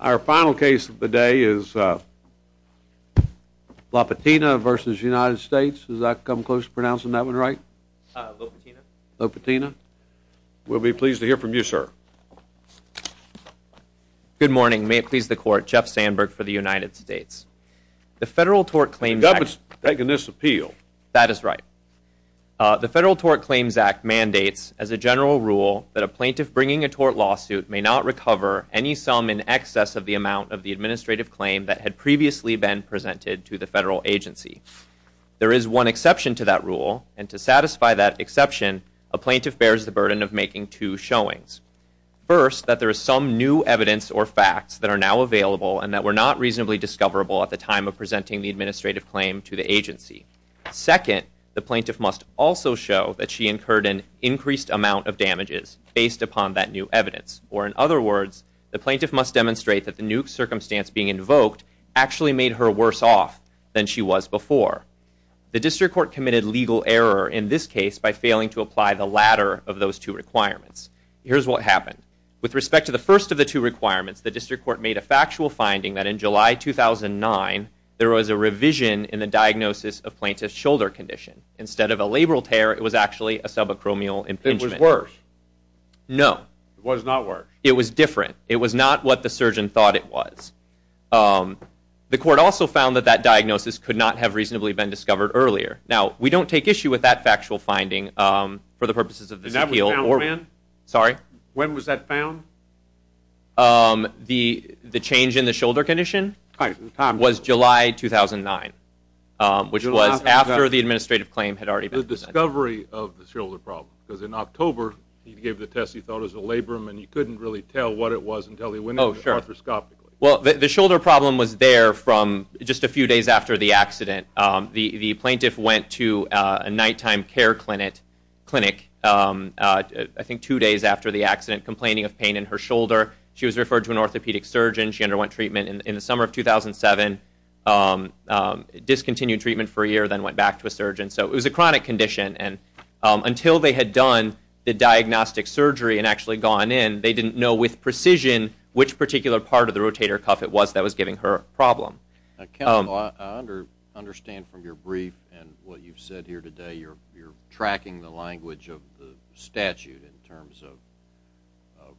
Our final case of the day is Lopatina v. United States. Has that come close to pronouncing that one right? Lopatina. Lopatina. We'll be pleased to hear from you, sir. Good morning. May it please the Court. Jeff Sandberg for the United States. The Federal Tort Claims Act... The government's taking this appeal. That is right. The Federal Tort Claims Act mandates, as a general rule, that a plaintiff bringing a tort lawsuit may not recover any sum in excess of the amount of the administrative claim that had previously been presented to the federal agency. There is one exception to that rule, and to satisfy that exception, a plaintiff bears the burden of making two showings. First, that there is some new evidence or facts that are now available and that were not reasonably discoverable at the time of presenting the administrative claim to the agency. Second, the plaintiff must also show that she incurred an increased amount of damages based upon that new evidence. Or, in other words, the plaintiff must demonstrate that the new circumstance being invoked actually made her worse off than she was before. The District Court committed legal error in this case by failing to apply the latter of those two requirements. Here's what happened. With respect to the first of the two requirements, the District Court made a factual finding that in July 2009, there was a revision in the diagnosis of plaintiff's shoulder condition. Instead of a labral tear, it was actually a subacromial impingement. It was worse? No. It was not worse? It was different. It was not what the surgeon thought it was. The court also found that that diagnosis could not have reasonably been discovered earlier. Now, we don't take issue with that factual finding for the purposes of this appeal. And that was found when? Sorry? When was that found? The change in the shoulder condition? Was July 2009, which was after the administrative claim had already been presented. The discovery of the shoulder problem. Because in October, he gave the test he thought was a labrum, and he couldn't really tell what it was until he went in arthroscopically. Well, the shoulder problem was there from just a few days after the accident. The plaintiff went to a nighttime care clinic, I think two days after the accident, complaining of pain in her shoulder. She was referred to an orthopedic surgeon. She underwent treatment in the summer of 2007, discontinued treatment for a year, then went back to a surgeon. So it was a chronic condition. And until they had done the diagnostic surgery and actually gone in, they didn't know with precision which particular part of the rotator cuff it was that was giving her a problem. Now, Kendall, I understand from your brief and what you've said here today, you're tracking the language of the statute in terms of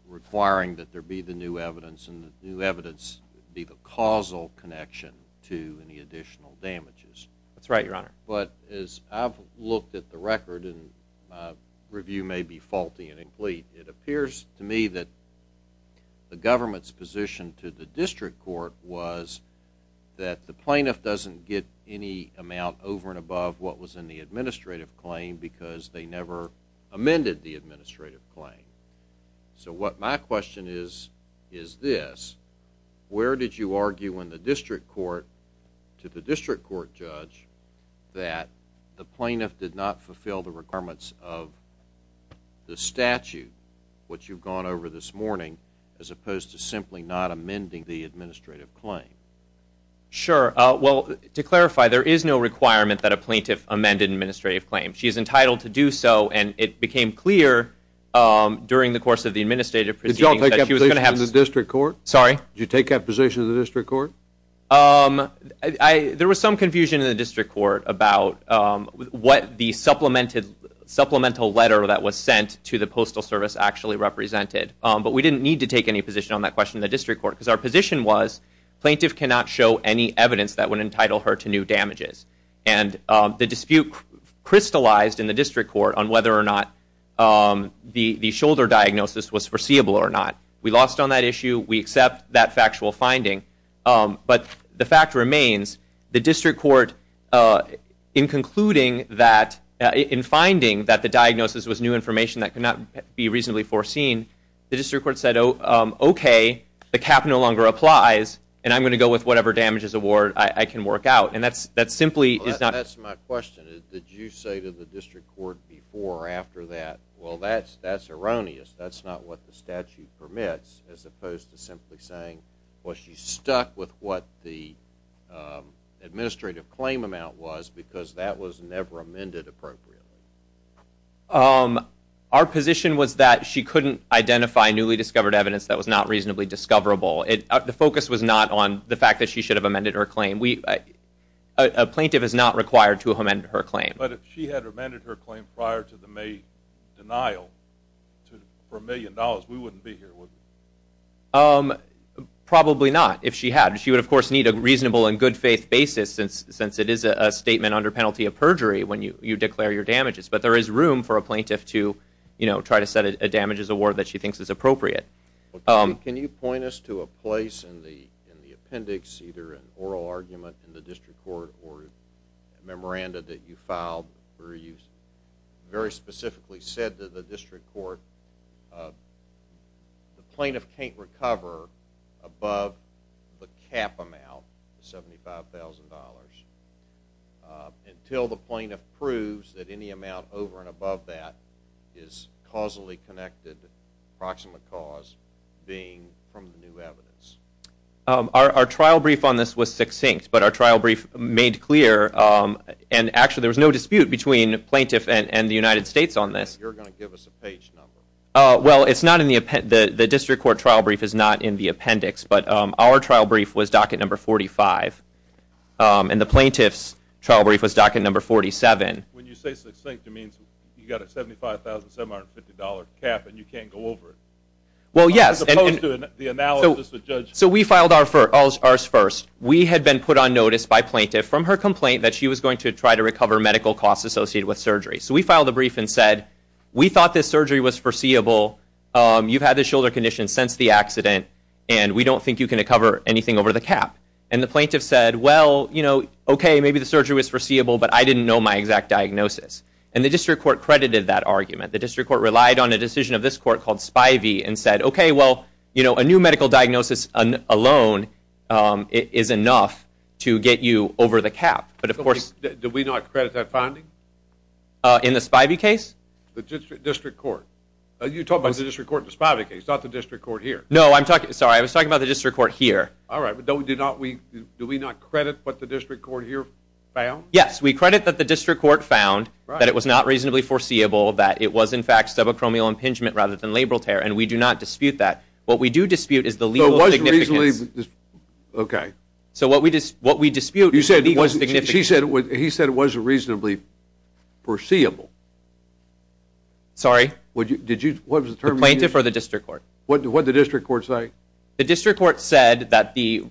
requiring that there be the new evidence, and the new evidence be the causal connection to any additional damages. That's right, Your Honor. But as I've looked at the record, and my review may be faulty and incomplete, it appears to me that the government's position to the district court was that the plaintiff doesn't get any amount over and above what was in the administrative claim because they never amended the administrative claim. So what my question is, is this. Where did you argue in the district court to the district court judge that the plaintiff did not fulfill the requirements of the statute, which you've gone over this morning, as opposed to simply not amending the administrative claim? Sure. Well, to clarify, there is no requirement that a plaintiff amend an administrative claim. She is entitled to do so, and it became clear during the course of the administrative proceeding that she was going to have- Did you take that position in the district court? Sorry? Did you take that position in the district court? There was some confusion in the district court about what the supplemental letter that was sent to the Postal Service actually represented. But we didn't need to take any position on that question in the district court because our position was plaintiff cannot show any evidence that would entitle her to new damages. And the dispute crystallized in the district court on whether or not the shoulder diagnosis was foreseeable or not. We lost on that issue. We accept that factual finding. But the fact remains, the district court, in concluding that- in finding that the diagnosis was new information that could not be reasonably foreseen, the district court said, okay, the cap no longer applies, and I'm going to go with whatever damages award I can work out. And that simply is not- That's my question. Did you say to the district court before or after that, well, that's erroneous, that's not what the statute permits, as opposed to simply saying, well, she's stuck with what the administrative claim amount was because that was never amended appropriately. Our position was that she couldn't identify newly discovered evidence that was not reasonably discoverable. The focus was not on the fact that she should have amended her claim. A plaintiff is not required to amend her claim. But if she had amended her claim prior to the May denial for a million dollars, we wouldn't be here, would we? Probably not, if she had. She would, of course, need a reasonable and good faith basis, since it is a statement under penalty of perjury when you declare your damages. But there is room for a plaintiff to try to set a damages award that she thinks is appropriate. Can you point us to a place in the appendix, either an oral argument in the district court or a memoranda that you filed where you very specifically said to the district court, the plaintiff can't recover above the cap amount, $75,000, until the plaintiff proves that any amount over and above that is causally connected, approximate cause, being from the new evidence? Our trial brief on this was succinct, but our trial brief made clear, and actually there was no dispute between the plaintiff and the United States on this. You're going to give us a page number. Well, the district court trial brief is not in the appendix, but our trial brief was docket number 45, and the plaintiff's trial brief was docket number 47. When you say succinct, it means you've got a $75,750 cap and you can't go over it. Well, yes. As opposed to the analysis the judge... So we filed ours first. We had been put on notice by a plaintiff from her complaint that she was going to try to recover medical costs associated with surgery. So we filed the brief and said, we thought this surgery was foreseeable. You've had this shoulder condition since the accident, and we don't think you can recover anything over the cap. And the plaintiff said, well, you know, okay, maybe the surgery was foreseeable, but I didn't know my exact diagnosis. And the district court credited that argument. The district court relied on a decision of this court called Spivey and said, okay, well, you know, a new medical diagnosis alone is enough to get you over the cap. But of course... Do we not credit that finding? In the Spivey case? The district court. You're talking about the district court in the Spivey case, not the district court here. No, I'm talking... Sorry, I was talking about the district court here. All right, but do we not credit what the district court here found? Yes, we credit that the district court found that it was not reasonably foreseeable, that it was, in fact, subacromial impingement rather than labral tear, and we do not dispute that. What we do dispute is the legal significance. Okay. So what we dispute is the legal significance. He said it wasn't reasonably foreseeable. Sorry? What was the term again? The plaintiff or the district court? What did the district court say? The district court said that the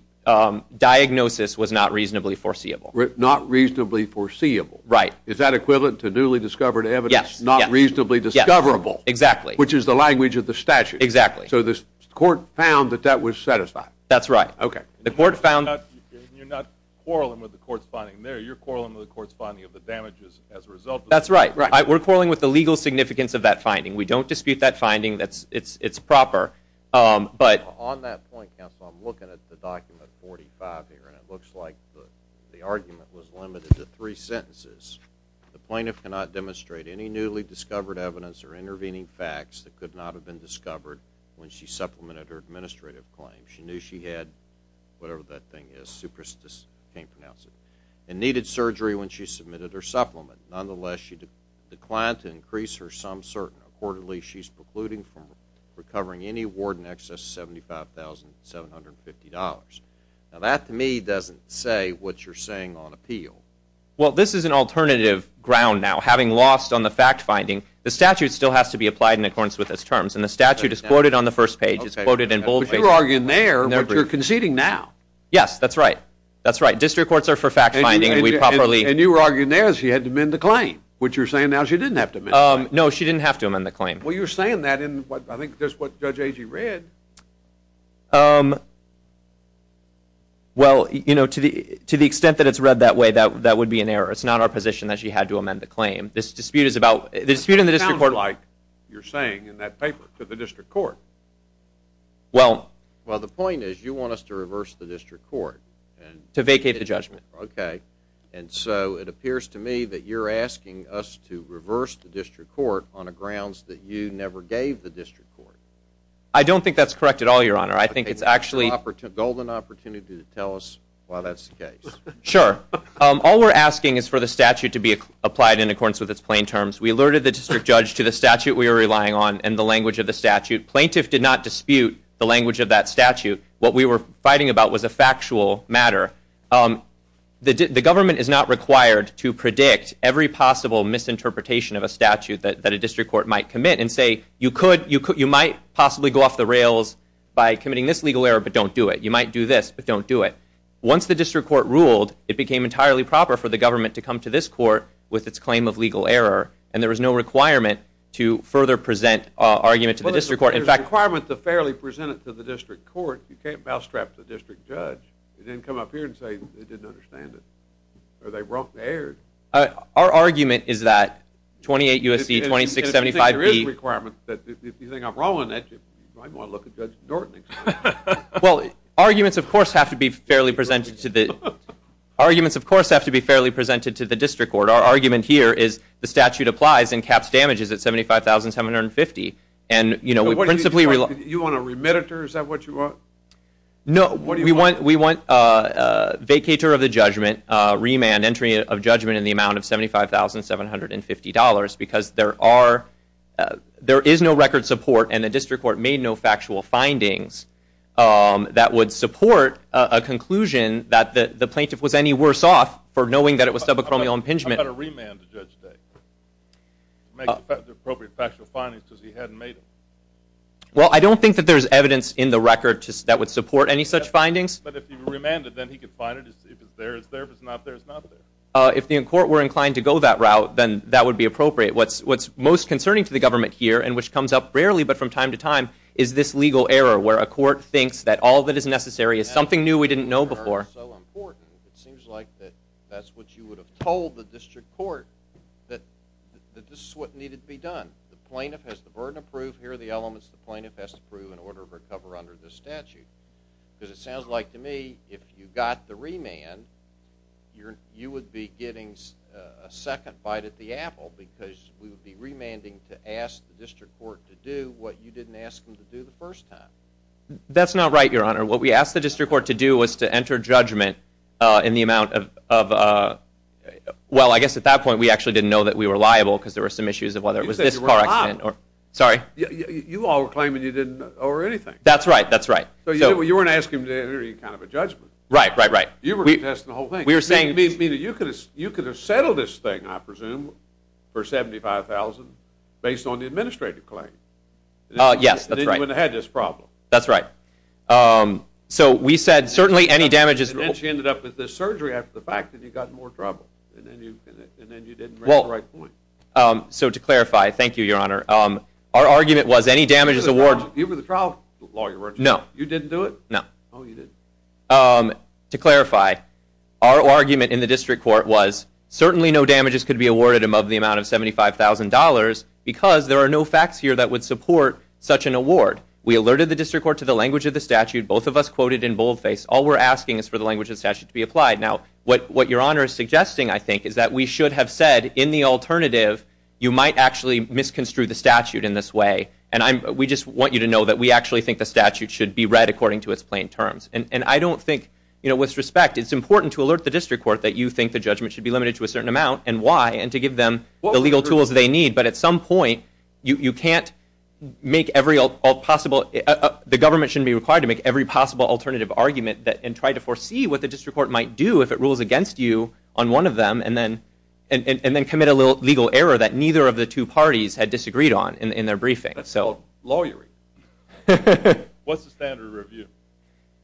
diagnosis was not reasonably foreseeable. Not reasonably foreseeable. Right. Is that equivalent to newly discovered evidence? Yes. Not reasonably discoverable. Exactly. Which is the language of the statute. Exactly. So the court found that that was satisfied. That's right. The court found... You're not quarreling with the court's finding there. You're quarreling with the court's finding of the damages as a result of that. That's right. We're quarreling with the legal significance of that finding. We don't dispute that finding. It's proper. But... On that point, counsel, I'm looking at the document 45 here, and it looks like the argument was limited to three sentences. The plaintiff cannot demonstrate any newly discovered evidence or intervening facts that could not have been discovered when she supplemented her administrative claim. She knew she had whatever that thing is. I can't pronounce it. And needed surgery when she submitted her supplement. Nonetheless, she declined to increase her sum certain. Accordingly, she's precluding from recovering any award in excess of $75,750. Now that, to me, doesn't say what you're saying on appeal. Well, this is an alternative ground now. Having lost on the fact-finding, the statute still has to be applied in accordance with its terms, and the statute is quoted on the first page. It's quoted in bold. But you're arguing there, but you're conceding now. Yes, that's right. That's right. District courts are for fact-finding, and we properly... And you were arguing there that she had to amend the claim, which you're saying now she didn't have to amend the claim. No, she didn't have to amend the claim. Well, you're saying that in, I think, just what Judge Agee read. Um, well, you know, to the extent that it's read that way, that would be an error. It's not our position that she had to amend the claim. This dispute is about... It sounds like you're saying in that paper to the district court. Well... Well, the point is you want us to reverse the district court. To vacate the judgment. Okay. And so it appears to me that you're asking us to reverse the district court on the grounds that you never gave the district court. I don't think that's correct at all, Your Honor. I think it's actually... Golden opportunity to tell us why that's the case. Sure. All we're asking is for the statute to be applied in accordance with its plain terms. We alerted the district judge to the statute we were relying on and the language of the statute. Plaintiff did not dispute the language of that statute. What we were fighting about was a factual matter. The government is not required to predict every possible misinterpretation of a statute that a district court might commit and say, you might possibly go off the rails by committing this legal error, but don't do it. You might do this, but don't do it. Once the district court ruled, it became entirely proper for the government to come to this court with its claim of legal error and there was no requirement to further present argument to the district court. There's a requirement to fairly present it to the district court. You can't mousetrap the district judge. They didn't come up here and say they didn't understand it. Are they wrong there? Our argument is that 28 U.S.C., 2675B... If you think I'm wrong on that, you might want to look at Judge Dornan. Well, arguments, of course, have to be fairly presented to the district court. Our argument here is the statute applies and caps damages at $75,750. You want a remitter? Is that what you want? No. We want vacatur of the judgment, remand, entry of judgment in the amount of $75,750 because there is no record support and the district court made no factual findings that would support a conclusion that the plaintiff was any worse off for knowing that it was subacromial impingement. How about a remand to Judge Day? Make appropriate factual findings because he hadn't made them. Well, I don't think that there's evidence in the record that would support any such findings. But if you remanded, then he could find it. If it's there, it's there. If it's not there, it's not there. If the court were inclined to go that route, then that would be appropriate. What's most concerning to the government here and which comes up rarely but from time to time is this legal error where a court thinks that all that is necessary is something new we didn't know before. It seems like that that's what you would have told the district court that this is what needed to be done. The plaintiff has the burden of proof. Here are the elements the plaintiff has to prove in order to recover under this statute because it sounds like to me if you got the remand, you would be getting a second bite at the apple because we would be remanding to ask the district court to do what you didn't ask them to do the first time. That's not right, Your Honor. What we asked the district court to do was to enter judgment in the amount of, well, I guess at that point we actually didn't know that we were liable because there were some issues of whether it was this car accident. You said you were not. Sorry? You all were claiming you didn't know or anything. That's right. That's right. So you weren't asking him to enter any kind of a judgment. Right, right, right. You were contesting the whole thing. You could have settled this thing, I presume, for $75,000 based on the administrative claim. Yes, that's right. And then you wouldn't have had this problem. That's right. So we said certainly any damages... And then she ended up with this surgery after the fact that you got in more trouble and then you didn't raise the right point. So to clarify, thank you, Your Honor. Our argument was any damages awarded... You were the trial lawyer, weren't you? No. You didn't do it? No. Oh, you didn't. To clarify, our argument in the district court was certainly no damages could be awarded above the amount of $75,000 because there are no facts here that would support such an award. We alerted the district court to the language of the statute. Both of us quoted in boldface. All we're asking is for the language of the statute to be applied. Now, what Your Honor is suggesting, I think, is that we should have said in the alternative you might actually misconstrue the statute in this way. And we just want you to know that we actually think the statute should be read according to its plain terms. And I don't think, you know, with respect, it's important to alert the district court that you think the judgment should be limited to a certain amount and why and to give them the legal tools they need. But at some point, you can't make every possible... The government shouldn't be required to make every possible alternative argument and try to foresee what the district court might do if it rules against you on one of them and then commit a legal error that neither of the two parties had disagreed on in their briefing. That's called lawyering. What's the standard of review?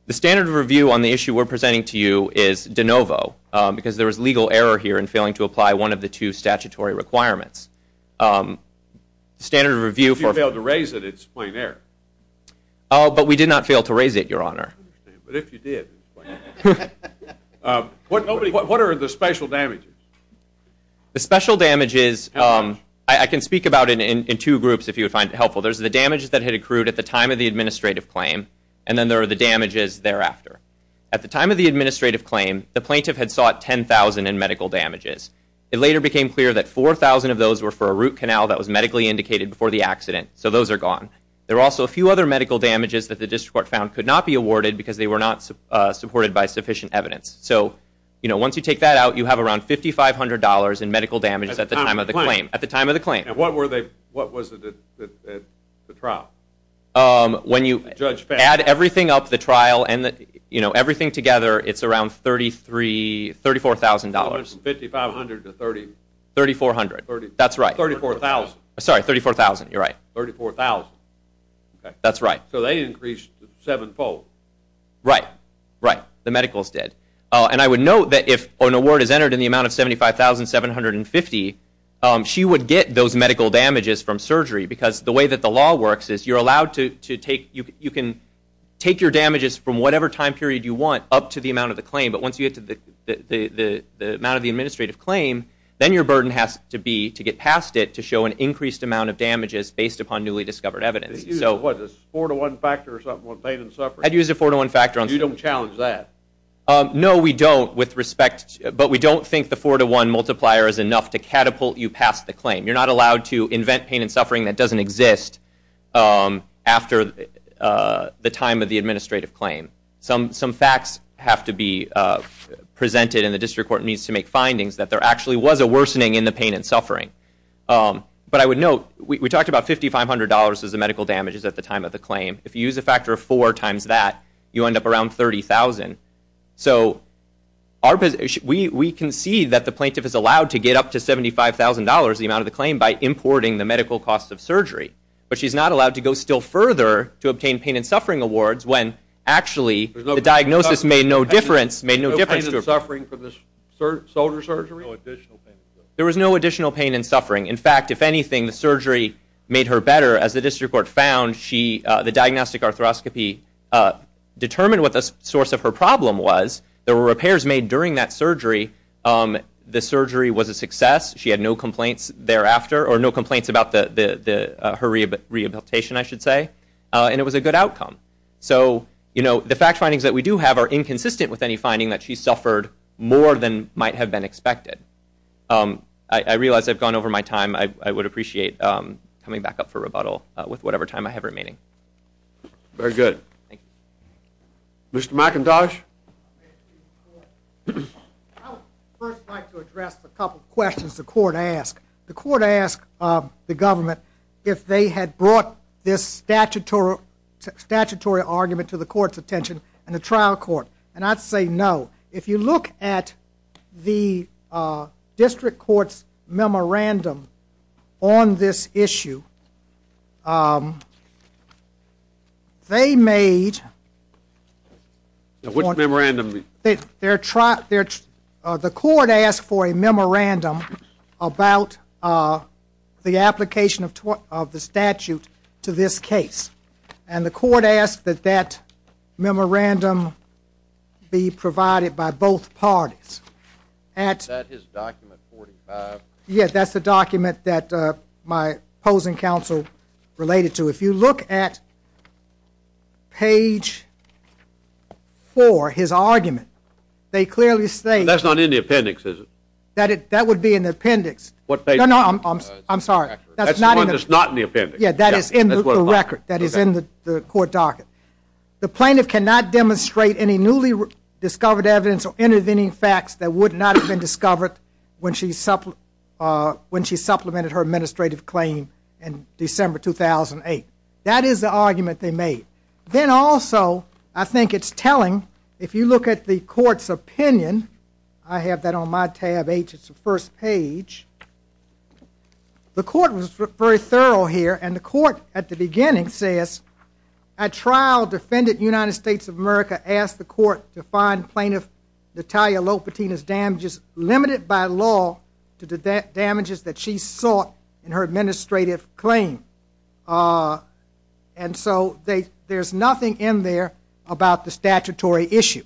The standard of review on the issue we're presenting to you is de novo because there is legal error here in failing to apply one of the two statutory requirements. The standard of review for... If you fail to raise it, it's plain error. Oh, but we did not fail to raise it, Your Honor. But if you did, it's plain error. What are the special damages? The special damages, I can speak about it in two groups if you would find it helpful. There's the damages that had accrued at the time of the administrative claim, and then there are the damages thereafter. At the time of the administrative claim, the plaintiff had sought $10,000 in medical damages. It later became clear that $4,000 of those were for a root canal that was medically indicated before the accident, so those are gone. There are also a few other medical damages that the district court found could not be awarded because they were not supported by sufficient evidence. So, you know, once you take that out, you have around $5,500 in medical damages at the time of the claim. And what was it at the trial? When you add everything up, the trial, and everything together, it's around $34,000. $5,500 to $3,400. $3,400, that's right. $34,000. Sorry, $34,000, you're right. $34,000. That's right. So they increased sevenfold. Right, right, the medicals did. And I would note that if an award is entered in the amount of $75,750, she would get those medical damages from surgery because the way that the law works is you're allowed to take, you can take your damages from whatever time period you want up to the amount of the claim, but once you get to the amount of the administrative claim, then your burden has to be to get past it to show an increased amount of damages based upon newly discovered evidence. So, what, a four-to-one factor or something with pain and suffering? I'd use a four-to-one factor. You don't challenge that? No, we don't with respect, but we don't think the four-to-one multiplier is enough to catapult you past the claim. You're not allowed to invent pain and suffering that doesn't exist after the time of the administrative claim. Some facts have to be presented and the district court needs to make findings that there actually was a worsening in the pain and suffering. But I would note, we talked about $5,500 as the medical damages at the time of the claim. If you use a factor of four times that, you end up around $30,000. So, we concede that the plaintiff is allowed to get up to $75,000, the amount of the claim, by importing the medical cost of surgery. But she's not allowed to go still further to obtain pain and suffering awards when actually the diagnosis made no difference. There was no pain and suffering for this soldier surgery? No additional pain and suffering. There was no additional pain and suffering. In fact, if anything, the surgery made her better. As the district court found, the diagnostic arthroscopy determined what the source of her problem was. There were repairs made during that surgery. The surgery was a success. She had no complaints thereafter, or no complaints about her rehabilitation, I should say. And it was a good outcome. So, the fact findings that we do have are inconsistent with any finding that she suffered more than might have been expected. I realize I've gone over my time. I would appreciate coming back up for rebuttal with whatever time I have remaining. Very good. Mr. McIntosh? I would first like to address a couple questions the court asked. The court asked the government if they had brought this statutory argument to the court's attention in the trial court. And I'd say no. If you look at the district court's memorandum on this issue, they made... Which memorandum? The court asked for a memorandum about the application of the statute to this case. And the court asked that that memorandum be provided by both parties. Is that his document 45? Yes, that's the document that my opposing counsel related to. If you look at page 4, his argument, they clearly state... That's not in the appendix, is it? That would be in the appendix. No, no, I'm sorry. That's the one that's not in the appendix. Yeah, that is in the record, that is in the court docket. The plaintiff cannot demonstrate any newly discovered evidence or intervening facts that would not have been discovered when she supplemented her administrative claim in December 2008. That is the argument they made. Then also, I think it's telling, if you look at the court's opinion, I have that on my tab H, it's the first page. The court was very thorough here, and the court at the beginning says, a trial defendant in the United States of America asked the court to find plaintiff Natalia Lopatina's damages limited by law to the damages that she sought in her administrative claim. And so there's nothing in there about the statutory issue.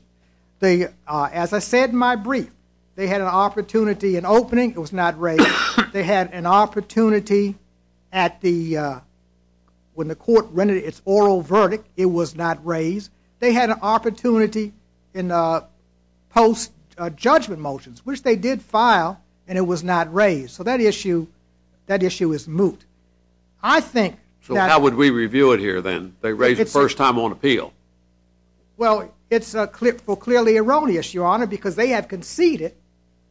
As I said in my brief, they had an opportunity in opening, it was not raised. They had an opportunity when the court rendered its oral verdict, it was not raised. They had an opportunity in post-judgment motions, which they did file, and it was not raised. So that issue is moot. So how would we review it here then? They raised it the first time on appeal. Well, it's clearly erroneous, Your Honor, because they have conceded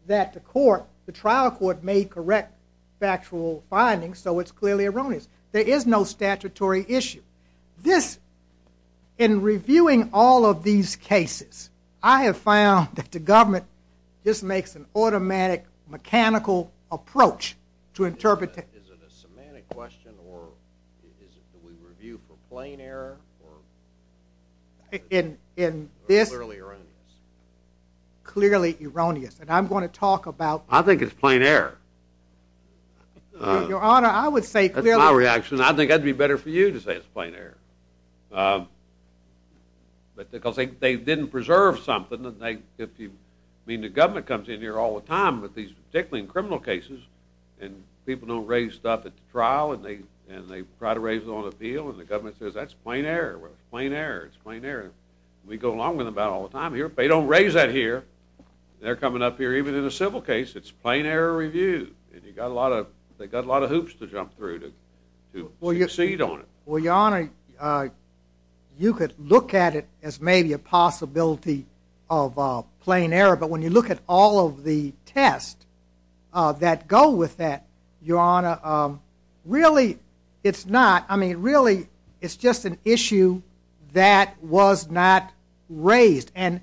that the trial court made correct factual findings, so it's clearly erroneous. There is no statutory issue. In reviewing all of these cases, I have found that the government just makes an automatic mechanical approach to interpret it. Is it a semantic question, or is it that we review for plain error, or is it clearly erroneous? Clearly erroneous, and I'm going to talk about... I think it's plain error. Your Honor, I would say clearly... That's my reaction. I think I'd be better for you to say it's plain error, because they didn't preserve something. I mean, the government comes in here all the time, but particularly in criminal cases, and people don't raise stuff at the trial, and they try to raise it on appeal, and the government says, that's plain error. Well, it's plain error. It's plain error. We go along with it about all the time here. If they don't raise that here, they're coming up here even in a civil case. It's plain error review, and they've got a lot of hoops to jump through to succeed on it. Well, Your Honor, you could look at it as maybe a possibility of plain error, but when you look at all of the tests that go with that, Your Honor, really it's not. I mean, really it's just an issue that was not raised. When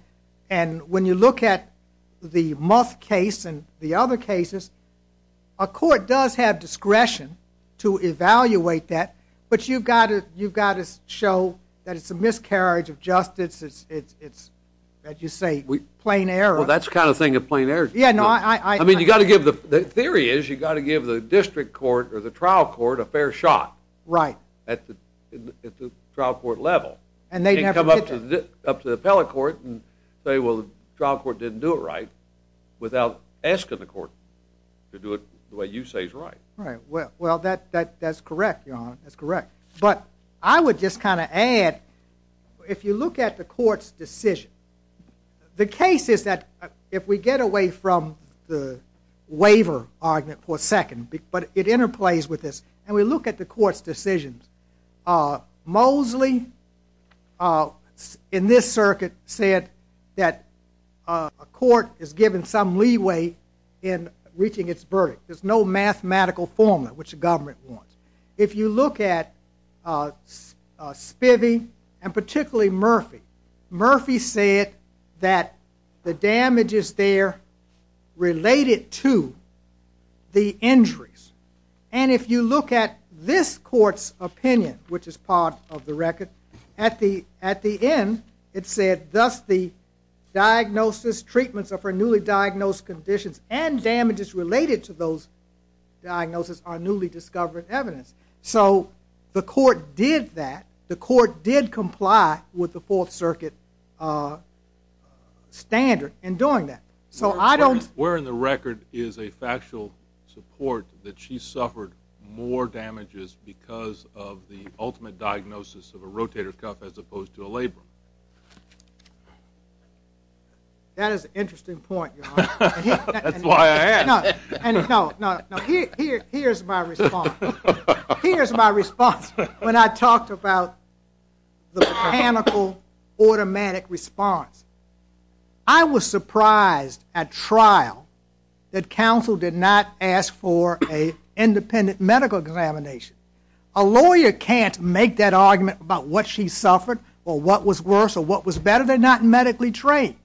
you look at the Muth case and the other cases, a court does have discretion to evaluate that, but you've got to show that it's a miscarriage of justice. It's, as you say, plain error. Well, that's the kind of thing that plain error is. I mean, the theory is you've got to give the district court or the trial court a fair shot at the trial court level. You can't come up to the appellate court and say, well, the trial court didn't do it right without asking the court to do it the way you say is right. Right. Well, that's correct, Your Honor. That's correct. But I would just kind of add, if you look at the court's decision, the case is that if we get away from the waiver argument for a second, but it interplays with this, and we look at the court's decisions, Mosley, in this circuit, said that a court is given some leeway in reaching its verdict. There's no mathematical formula, which the government wants. If you look at Spivey and particularly Murphy, Murphy said that the damage is there related to the injuries. And if you look at this court's opinion, which is part of the record, at the end it said thus the diagnosis, treatments of her newly diagnosed conditions and damages related to those diagnoses are newly discovered evidence. So the court did that. The court did comply with the Fourth Circuit standard in doing that. So I don't Where in the record is a factual support that she suffered more damages because of the ultimate diagnosis of a rotator cuff as opposed to a labrum? That is an interesting point, Your Honor. That's why I asked. No, no, no. Here's my response. Here's my response when I talked about the mechanical automatic response. I was surprised at trial that counsel did not ask for an independent medical examination. A lawyer can't make that argument about what she suffered or what was worse or what was better. They're not medically trained.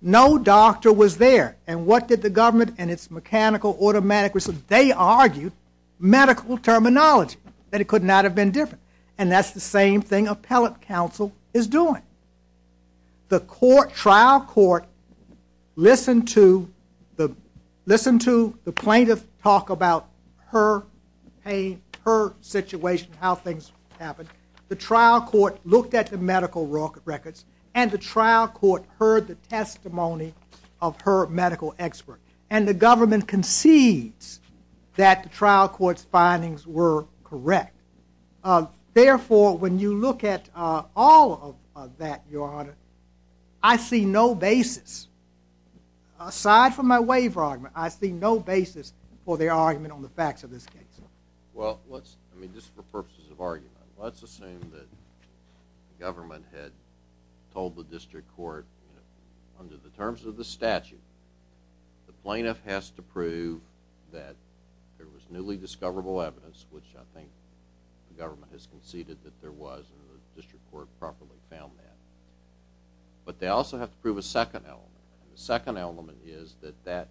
No doctor was there. And what did the government in its mechanical automatic response? They argued medical terminology, that it could not have been different. And that's the same thing appellate counsel is doing. The trial court listened to the plaintiff talk about her pain, her situation, how things happened. The trial court looked at the medical record and the trial court heard the testimony of her medical expert. And the government concedes that the trial court's findings were correct. Therefore, when you look at all of that, Your Honor, I see no basis. Aside from my waiver argument, I see no basis for their argument on the facts of this case. Well, just for purposes of argument, let's assume that the government had told the district court, under the terms of the statute, the plaintiff has to prove that there was newly discoverable evidence, which I think the government has conceded that there was, and the district court properly found that. But they also have to prove a second element. And the second element is that that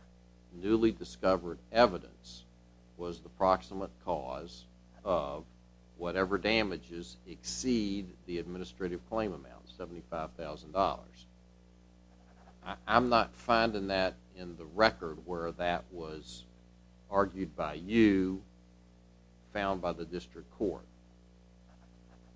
newly discovered evidence was the proximate cause of whatever damages exceed the administrative claim amount, $75,000. I'm not finding that in the record where that was argued by you, found by the district court.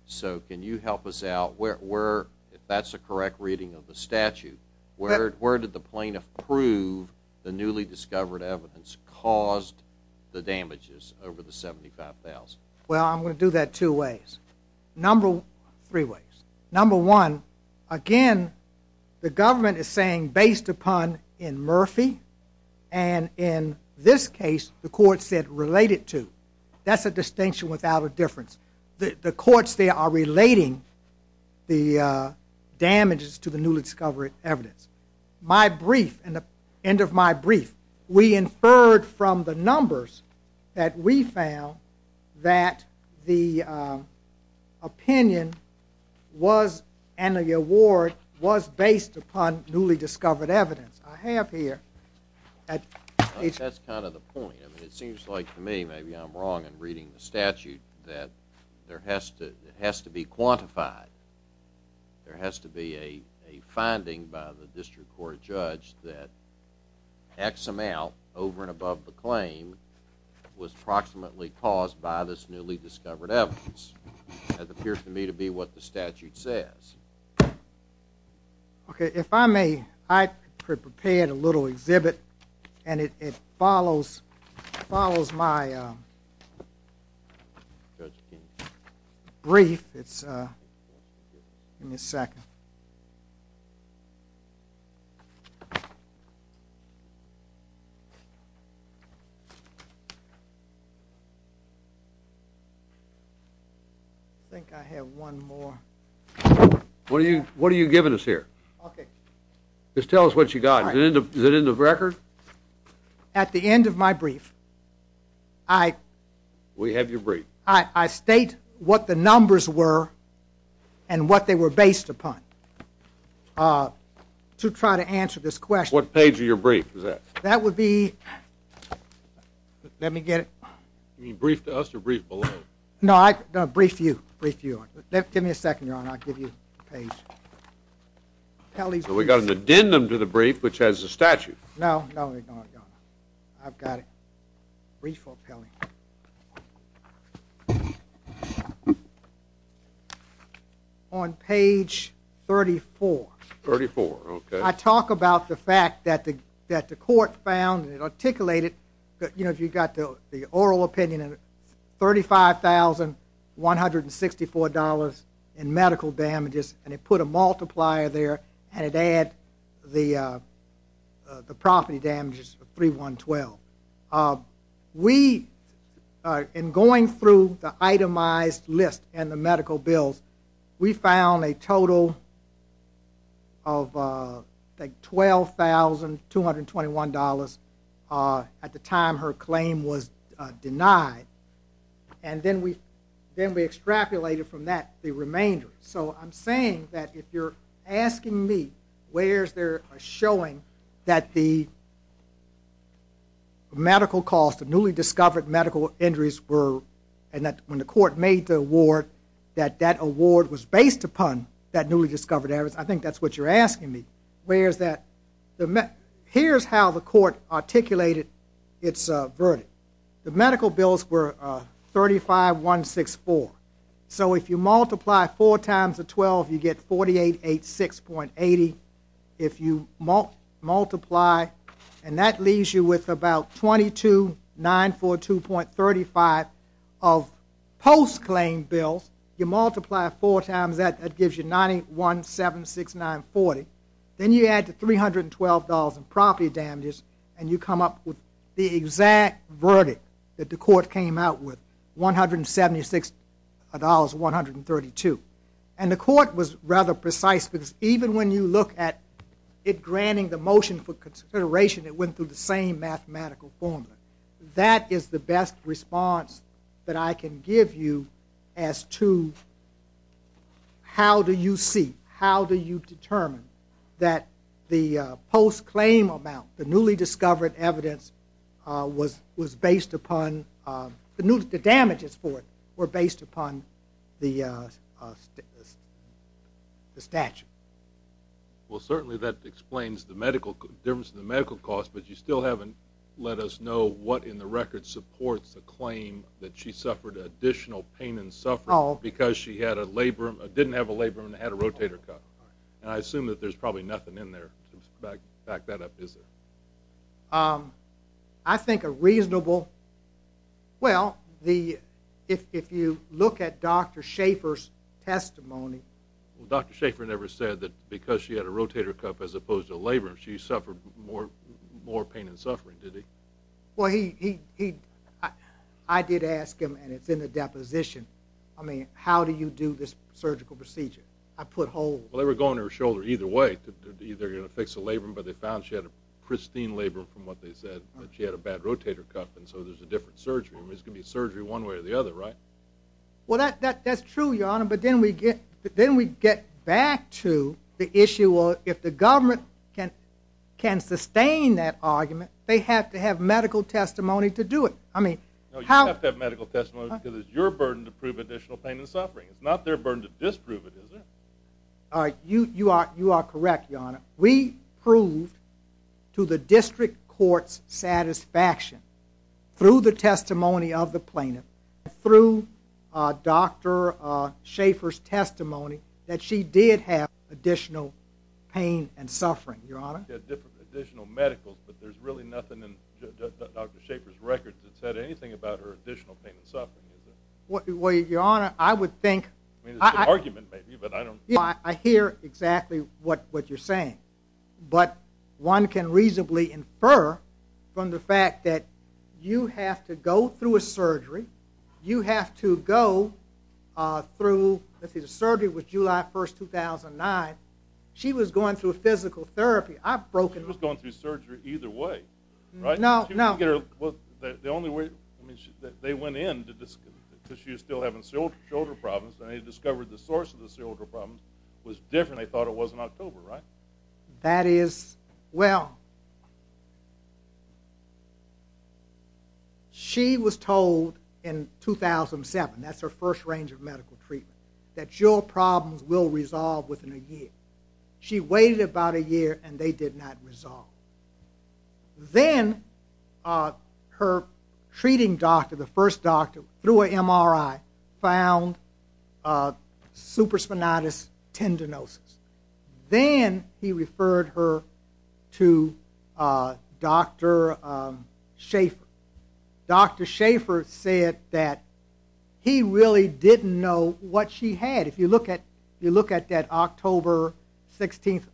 So can you help us out? If that's a correct reading of the statute, where did the plaintiff prove the newly discovered evidence caused the damages over the $75,000? Well, I'm going to do that two ways. Three ways. Number one, again, the government is saying based upon in Murphy, and in this case the court said related to. That's a distinction without a difference. The courts there are relating the damages to the newly discovered evidence. My brief, end of my brief, we inferred from the numbers that we found that the opinion and the award was based upon newly discovered evidence. I have here. That's kind of the point. It seems like to me, maybe I'm wrong in reading the statute, that it has to be quantified. There has to be a finding by the district court judge that X amount over and above the claim was approximately caused by this newly discovered evidence. That appears to me to be what the statute says. If I may, I prepared a little exhibit and it follows my brief. Give me a second. I think I have one more. What are you giving us here? Okay. Just tell us what you got. Is it in the record? We have your brief. I state what the numbers were and what they were based upon. To try to answer this question. What page of your brief is that? That would be, let me get it. You mean brief to us or brief below? No, brief you. Brief you. Give me a second, Your Honor. I'll give you the page. So we got an addendum to the brief, which has the statute. No, no, Your Honor. I've got it. Brief or appellate? On page 34. 34, okay. I talk about the fact that the court found and it articulated, you know, if you've got the oral opinion, $35,164 in medical damages, and it put a multiplier there and it added the property damages of 3,112. We, in going through the itemized list and the medical bills, we found a total of, I think, $12,221 at the time her claim was denied. And then we extrapolated from that the remainder. So I'm saying that if you're asking me where is there a showing that the medical cost of newly discovered medical injuries were, and that when the court made the award, that that award was based upon that newly discovered areas, I think that's what you're asking me. Where is that? Here's how the court articulated its verdict. The medical bills were $35,164. So if you multiply four times the 12, you get 48,86.80. If you multiply, and that leaves you with about 22,942.35 of post-claim bills, you multiply four times that, that gives you 91,769.40. Then you add the $312 in property damages and you come up with the exact verdict that the court came out with, $176,132. And the court was rather precise, because even when you look at it granting the motion for consideration, it went through the same mathematical formula. That is the best response that I can give you as to how do you see, how do you determine that the post-claim amount, the newly discovered evidence was based upon, the damages for it were based upon the statute. Well, certainly that explains the difference in the medical cost, but you still haven't let us know what in the record supports the claim that she suffered additional pain and suffering because she had a labrum, didn't have a labrum and had a rotator cuff. And I assume that there's probably nothing in there to back that up, is there? I think a reasonable, well, if you look at Dr. Schaefer's testimony. Well, Dr. Schaefer never said that because she had a rotator cuff as opposed to a labrum, she suffered more pain and suffering, did he? Well, I did ask him, and it's in the deposition, I mean, how do you do this surgical procedure? I put holes. Well, they were going to her shoulder either way. They're either going to fix the labrum, but they found she had a pristine labrum from what they said, that she had a bad rotator cuff, and so there's a different surgery. I mean, it's going to be surgery one way or the other, right? Well, that's true, Your Honor, but then we get back to the issue of if the government can sustain that argument, they have to have medical testimony to do it. to prove additional pain and suffering. It's not their burden to disprove it, is it? You are correct, Your Honor. We proved to the district court's satisfaction, through the testimony of the plaintiff, through Dr. Schaefer's testimony, that she did have additional pain and suffering, Your Honor. Additional medical, but there's really nothing in Dr. Schaefer's records that said anything about her additional pain and suffering, is there? Well, Your Honor, I would think... I mean, it's an argument, maybe, but I don't... I hear exactly what you're saying, but one can reasonably infer from the fact that you have to go through a surgery. You have to go through... The surgery was July 1, 2009. She was going through a physical therapy. I've broken... She was going through surgery either way, right? No, no. The only way... I mean, they went in because she was still having shoulder problems, and they discovered the source of the shoulder problems was different. They thought it was in October, right? That is... Well... She was told in 2007, that's her first range of medical treatment, that your problems will resolve within a year. She waited about a year, and they did not resolve. Then her treating doctor, the first doctor, through an MRI, found supraspinatus tendinosis. Then he referred her to Dr. Schaefer. Dr. Schaefer said that he really didn't know what she had. If you look at that October 16,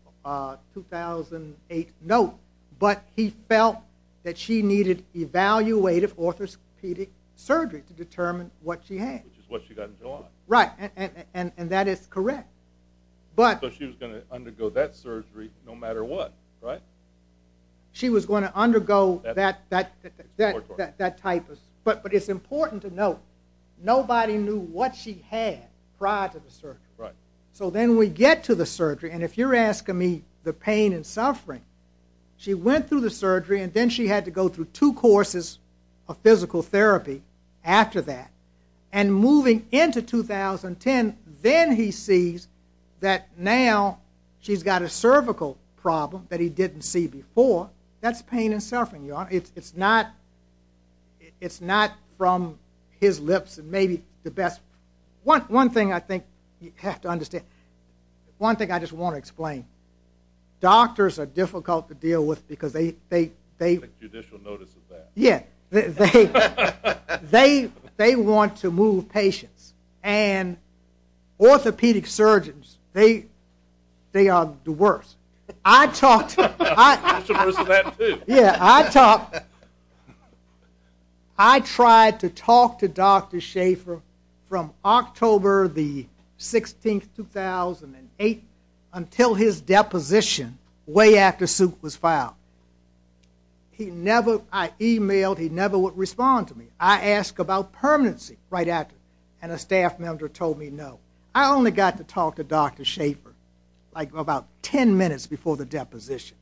2008 note, but he felt that she needed evaluative orthopedic surgery to determine what she had. Which is what she got in July. Right, and that is correct. So she was going to undergo that surgery no matter what, right? She was going to undergo that type of... But it's important to note, nobody knew what she had prior to the surgery. So then we get to the surgery, and if you're asking me the pain and suffering, she went through the surgery, and then she had to go through two courses of physical therapy after that. And moving into 2010, then he sees that now she's got a cervical problem That's pain and suffering, Your Honor. It's not from his lips, maybe the best... One thing I think you have to understand. One thing I just want to explain. Doctors are difficult to deal with because they... Judicial notice of that. Yeah. They want to move patients. And orthopedic surgeons, they are the worst. I talked... Judicial notice of that, too. Yeah, I talked... I tried to talk to Dr. Schaefer from October the 16th, 2008, until his deposition way after Suk was filed. I emailed, he never would respond to me. I asked about permanency right after, and a staff member told me no. I only got to talk to Dr. Schaefer like about 10 minutes before the deposition.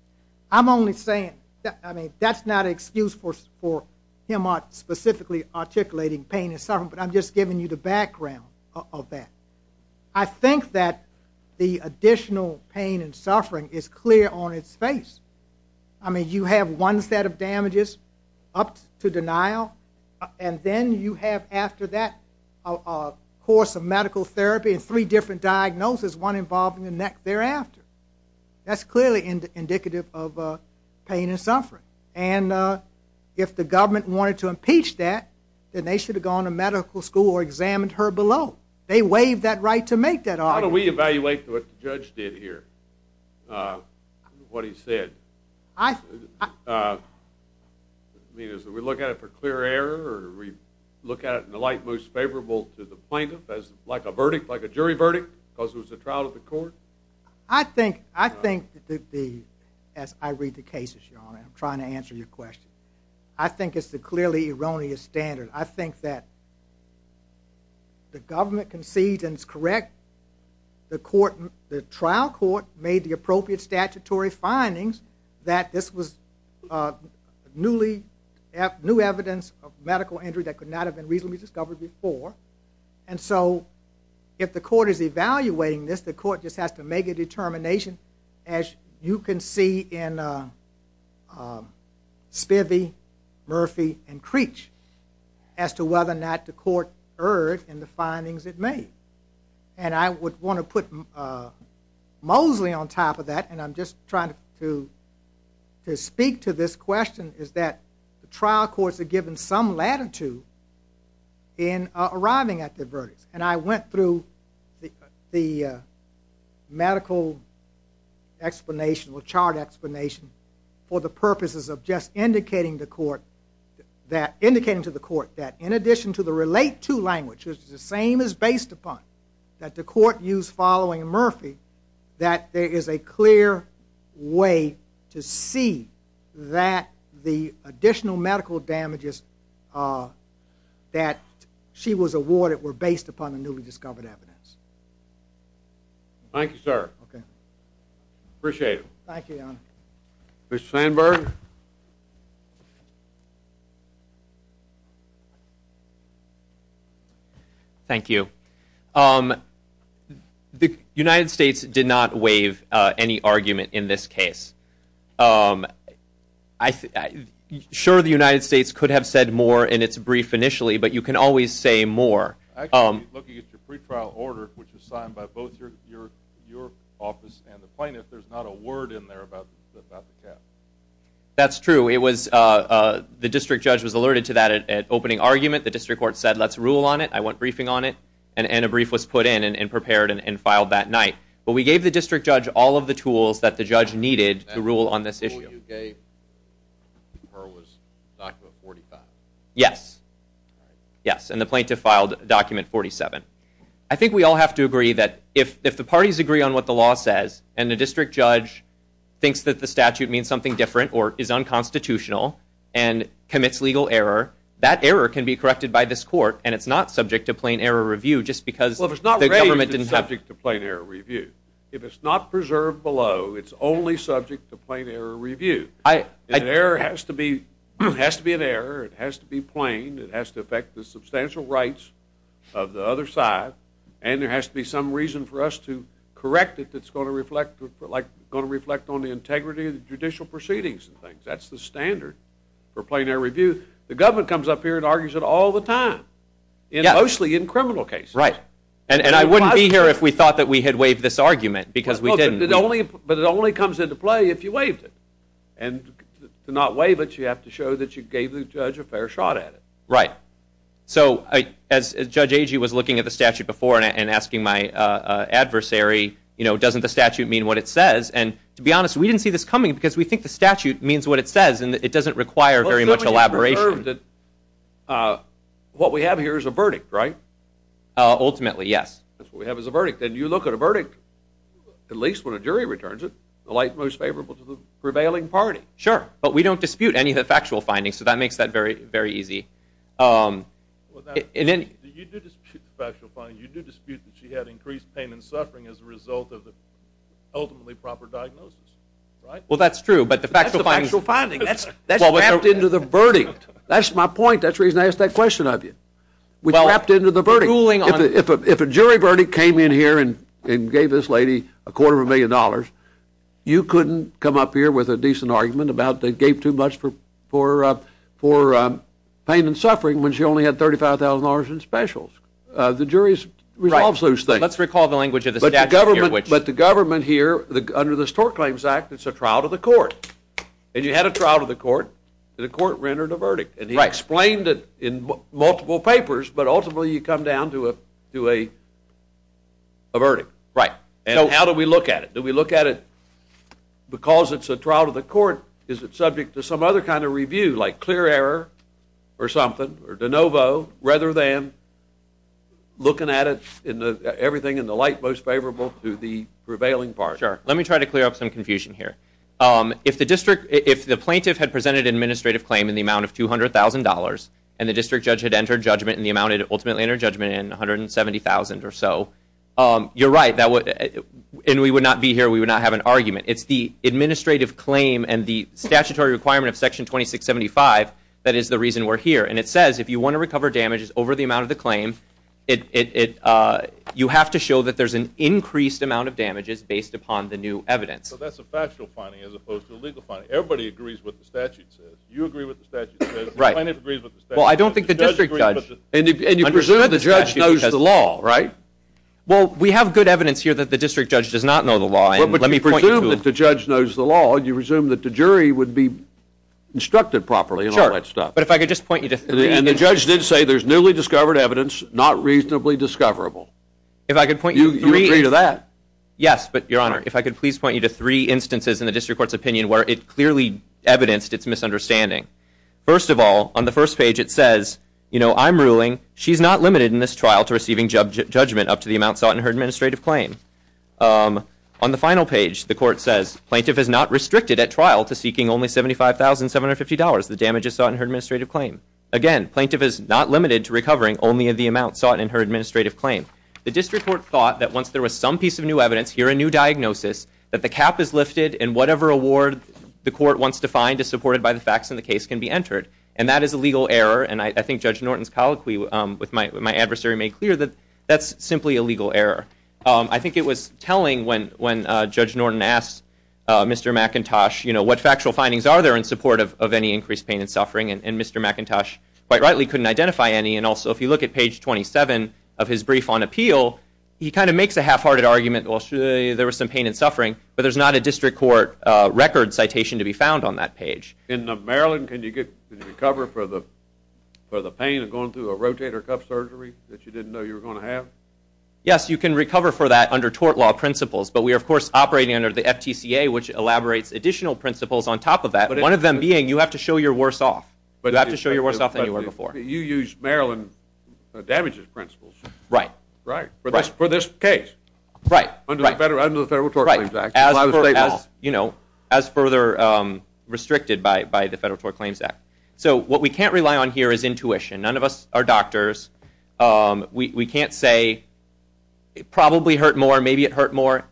I'm only saying... I mean, that's not an excuse for him specifically articulating pain and suffering, but I'm just giving you the background of that. I think that the additional pain and suffering is clear on its face. I mean, you have one set of damages up to denial, and then you have after that a course of medical therapy and three different diagnoses, one involving the neck thereafter. That's clearly indicative of pain and suffering. And if the government wanted to impeach that, then they should have gone to medical school or examined her below. They waived that right to make that argument. How do we evaluate what the judge did here, what he said? I... I mean, is it we look at it for clear error, or do we look at it in the light most favorable to the plaintiff, as like a verdict, like a jury verdict, because it was a trial of the court? I think that the... As I read the cases, I'm trying to answer your question. I think it's the clearly erroneous standard. I think that the government concedes and is correct. The trial court made the appropriate statutory findings that this was newly... new evidence of medical injury that could not have been reasonably discovered before. And so if the court is evaluating this, the court just has to make a determination, as you can see in Spivey, Murphy, and Creech, as to whether or not the court erred in the findings it made. And I would want to put Mosley on top of that, and I'm just trying to speak to this question, is that the trial courts are given some latitude in arriving at the verdicts. And I went through the medical explanation, or chart explanation, for the purposes of just indicating to the court that in addition to the relate to language, which is the same as based upon that the court used following Murphy, that there is a clear way to see that the additional medical damages that she was awarded were based upon the newly discovered evidence. Thank you, sir. Okay. Appreciate it. Thank you, Your Honor. Mr. Sandberg? Thank you. The United States did not waive any argument in this case. Sure, the United States could have said more in its brief initially, but you can always say more. Actually, looking at your pretrial order, which was signed by both your office and the plaintiff, there's not a word in there about the cast. That's true. The district judge was alerted to that at opening argument. The district court said, let's rule on it. I went briefing on it, and a brief was put in and prepared and filed that night. But we gave the district judge all of the tools that the judge needed to rule on this issue. That rule you gave was document 45? Yes. And the plaintiff filed document 47. I think we all have to agree that if the parties agree on what the law says and the district judge thinks that the statute means something different or is unconstitutional and commits legal error, that error can be corrected by this court, and it's not subject to plain error review just because the government didn't have it. Well, if it's not raised, it's subject to plain error review. If it's not preserved below, it's only subject to plain error review. An error has to be an error. It has to be plain. It has to affect the substantial rights of the other side, and there has to be some reason for us to correct it that's going to reflect on the integrity of the judicial proceedings and things. That's the standard for plain error review. The government comes up here and argues it all the time, mostly in criminal cases. Right. And I wouldn't be here if we thought that we had waived this argument because we didn't. But it only comes into play if you waived it. And to not waive it, you have to show that you gave the judge a fair shot at it. Right. So as Judge Agee was looking at the statute before and asking my adversary, you know, doesn't the statute mean what it says? And to be honest, we didn't see this coming because we think the statute means what it says, and it doesn't require very much elaboration. What we have here is a verdict, right? Ultimately, yes. That's what we have is a verdict. And you look at a verdict, at least when a jury returns it, the light most favorable to the prevailing party. Sure. But we don't dispute any of the factual findings, so that makes that very easy. You do dispute the factual findings. You do dispute that she had increased pain and suffering as a result of the ultimately proper diagnosis, right? Well, that's true. That's the factual finding. That's wrapped into the verdict. That's my point. That's the reason I asked that question of you. It's wrapped into the verdict. If a jury verdict came in here and gave this lady a quarter of a million dollars, you couldn't come up here with a decent argument about they gave too much for pain and suffering when she only had $35,000 in specials. The jury resolves those things. Right. Let's recall the language of the statute here. But the government here, under the Store Claims Act, it's a trial to the court. And you had a trial to the court, and the court rendered a verdict. And he explained it in multiple papers, but ultimately you come down to a verdict. Right. And how do we look at it? Do we look at it because it's a trial to the court? Is it subject to some other kind of review, like clear error or something, or de novo, rather than looking at everything in the light most favorable to the prevailing part? Sure. Let me try to clear up some confusion here. If the plaintiff had presented an administrative claim in the amount of $200,000 and the district judge had entered judgment in the amount it ultimately entered judgment in, $170,000 or so, you're right. And we would not be here. We would not have an argument. It's the administrative claim and the statutory requirement of Section 2675 that is the reason we're here. And it says if you want to recover damages over the amount of the claim, you have to show that there's an increased amount of damages based upon the new evidence. So that's a factual finding as opposed to a legal finding. Everybody agrees with what the statute says. You agree with what the statute says. The plaintiff agrees with the statute. Well, I don't think the district judge. And you presume the judge knows the law, right? Well, we have good evidence here that the district judge does not know the law. But you presume that the judge knows the law, and you presume that the jury would be instructed properly and all that stuff. But if I could just point you to three. And the judge did say there's newly discovered evidence, not reasonably discoverable. If I could point you to three. You agree to that? Yes, but, Your Honor, if I could please point you to three instances in the district court's opinion where it clearly evidenced its misunderstanding. First of all, on the first page it says, you know, I'm ruling she's not limited in this trial to receiving judgment up to the amount sought in her administrative claim. On the final page, the court says, plaintiff is not restricted at trial to seeking only $75,750. The damage is sought in her administrative claim. Again, plaintiff is not limited to recovering only in the amount sought in her administrative claim. The district court thought that once there was some piece of new evidence, here a new diagnosis, that the cap is lifted and whatever award the court wants to find is supported by the facts in the case can be entered. And that is a legal error. And I think Judge Norton's colloquy with my adversary made clear that that's simply a legal error. I think it was telling when Judge Norton asked Mr. McIntosh, you know, and Mr. McIntosh quite rightly couldn't identify any. And also, if you look at page 27 of his brief on appeal, he kind of makes a half-hearted argument, well, there was some pain and suffering, but there's not a district court record citation to be found on that page. In Maryland, can you recover for the pain of going through a rotator cuff surgery that you didn't know you were going to have? Yes, you can recover for that under tort law principles. But we are, of course, operating under the FTCA, which elaborates additional principles on top of that. One of them being you have to show you're worse off. You have to show you're worse off than you were before. You used Maryland damages principles. Right. For this case. Right. Under the Federal Tort Claims Act. As further restricted by the Federal Tort Claims Act. So what we can't rely on here is intuition. None of us are doctors. We can't say it probably hurt more, maybe it hurt more.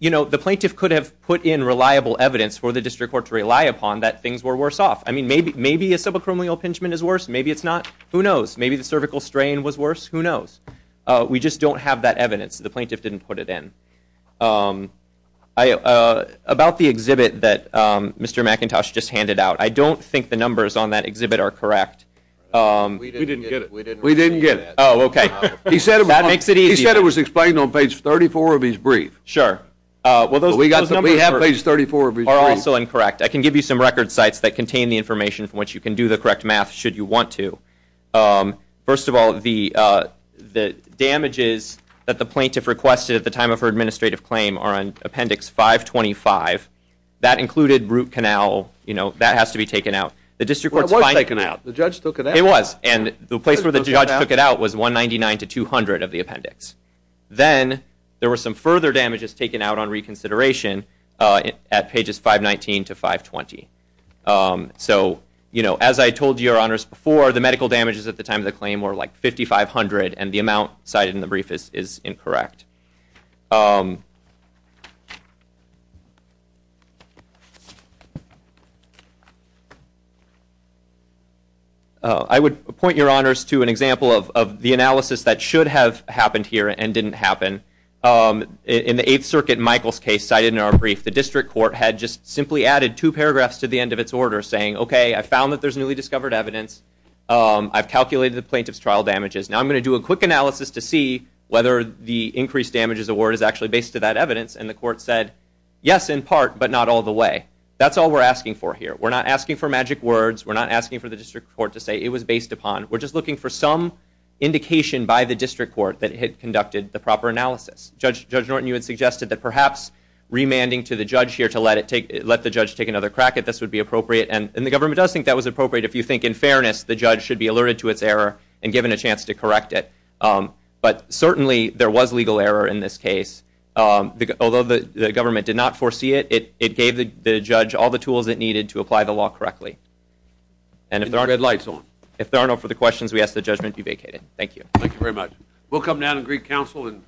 The plaintiff could have put in reliable evidence for the district court to rely upon that things were worse off. Maybe a subacromial impingement is worse, maybe it's not, who knows. Maybe the cervical strain was worse, who knows. We just don't have that evidence. The plaintiff didn't put it in. About the exhibit that Mr. McIntosh just handed out, I don't think the numbers on that exhibit are correct. We didn't get it. We didn't get it. Oh, okay. That makes it easier. He said it was explained on page 34 of his brief. Sure. But we have page 34 of his brief. Those numbers are also incorrect. I can give you some record sites that contain the information from which you can do the correct math should you want to. First of all, the damages that the plaintiff requested at the time of her administrative claim are on appendix 525. That included root canal. That has to be taken out. It was taken out. The judge took it out. It was. And the place where the judge took it out was 199 to 200 of the appendix. Then there were some further damages taken out on reconsideration at pages 519 to 520. So, you know, as I told your honors before, the medical damages at the time of the claim were like 5,500, and the amount cited in the brief is incorrect. I would point your honors to an example of the analysis that should have happened here and didn't happen. In the Eighth Circuit, Michael's case cited in our brief, the district court had just simply added two paragraphs to the end of its order saying, okay, I found that there's newly discovered evidence. I've calculated the plaintiff's trial damages. Now I'm going to do a quick analysis to see whether the increased damages award is actually based to that evidence. And the court said, yes, in part, but not all the way. That's all we're asking for here. We're not asking for magic words. We're not asking for the district court to say it was based upon. We're just looking for some indication by the district court that it had conducted the proper analysis. Judge Norton, you had suggested that perhaps remanding to the judge here to let the judge take another crack at this would be appropriate. And the government does think that was appropriate. If you think in fairness, the judge should be alerted to its error and given a chance to correct it. But certainly there was legal error in this case. Although the government did not foresee it, it gave the judge all the tools it needed to apply the law correctly. And if there aren't enough for the questions, we ask the judgment be vacated. Thank you. Thank you very much. We'll come down and greet counsel.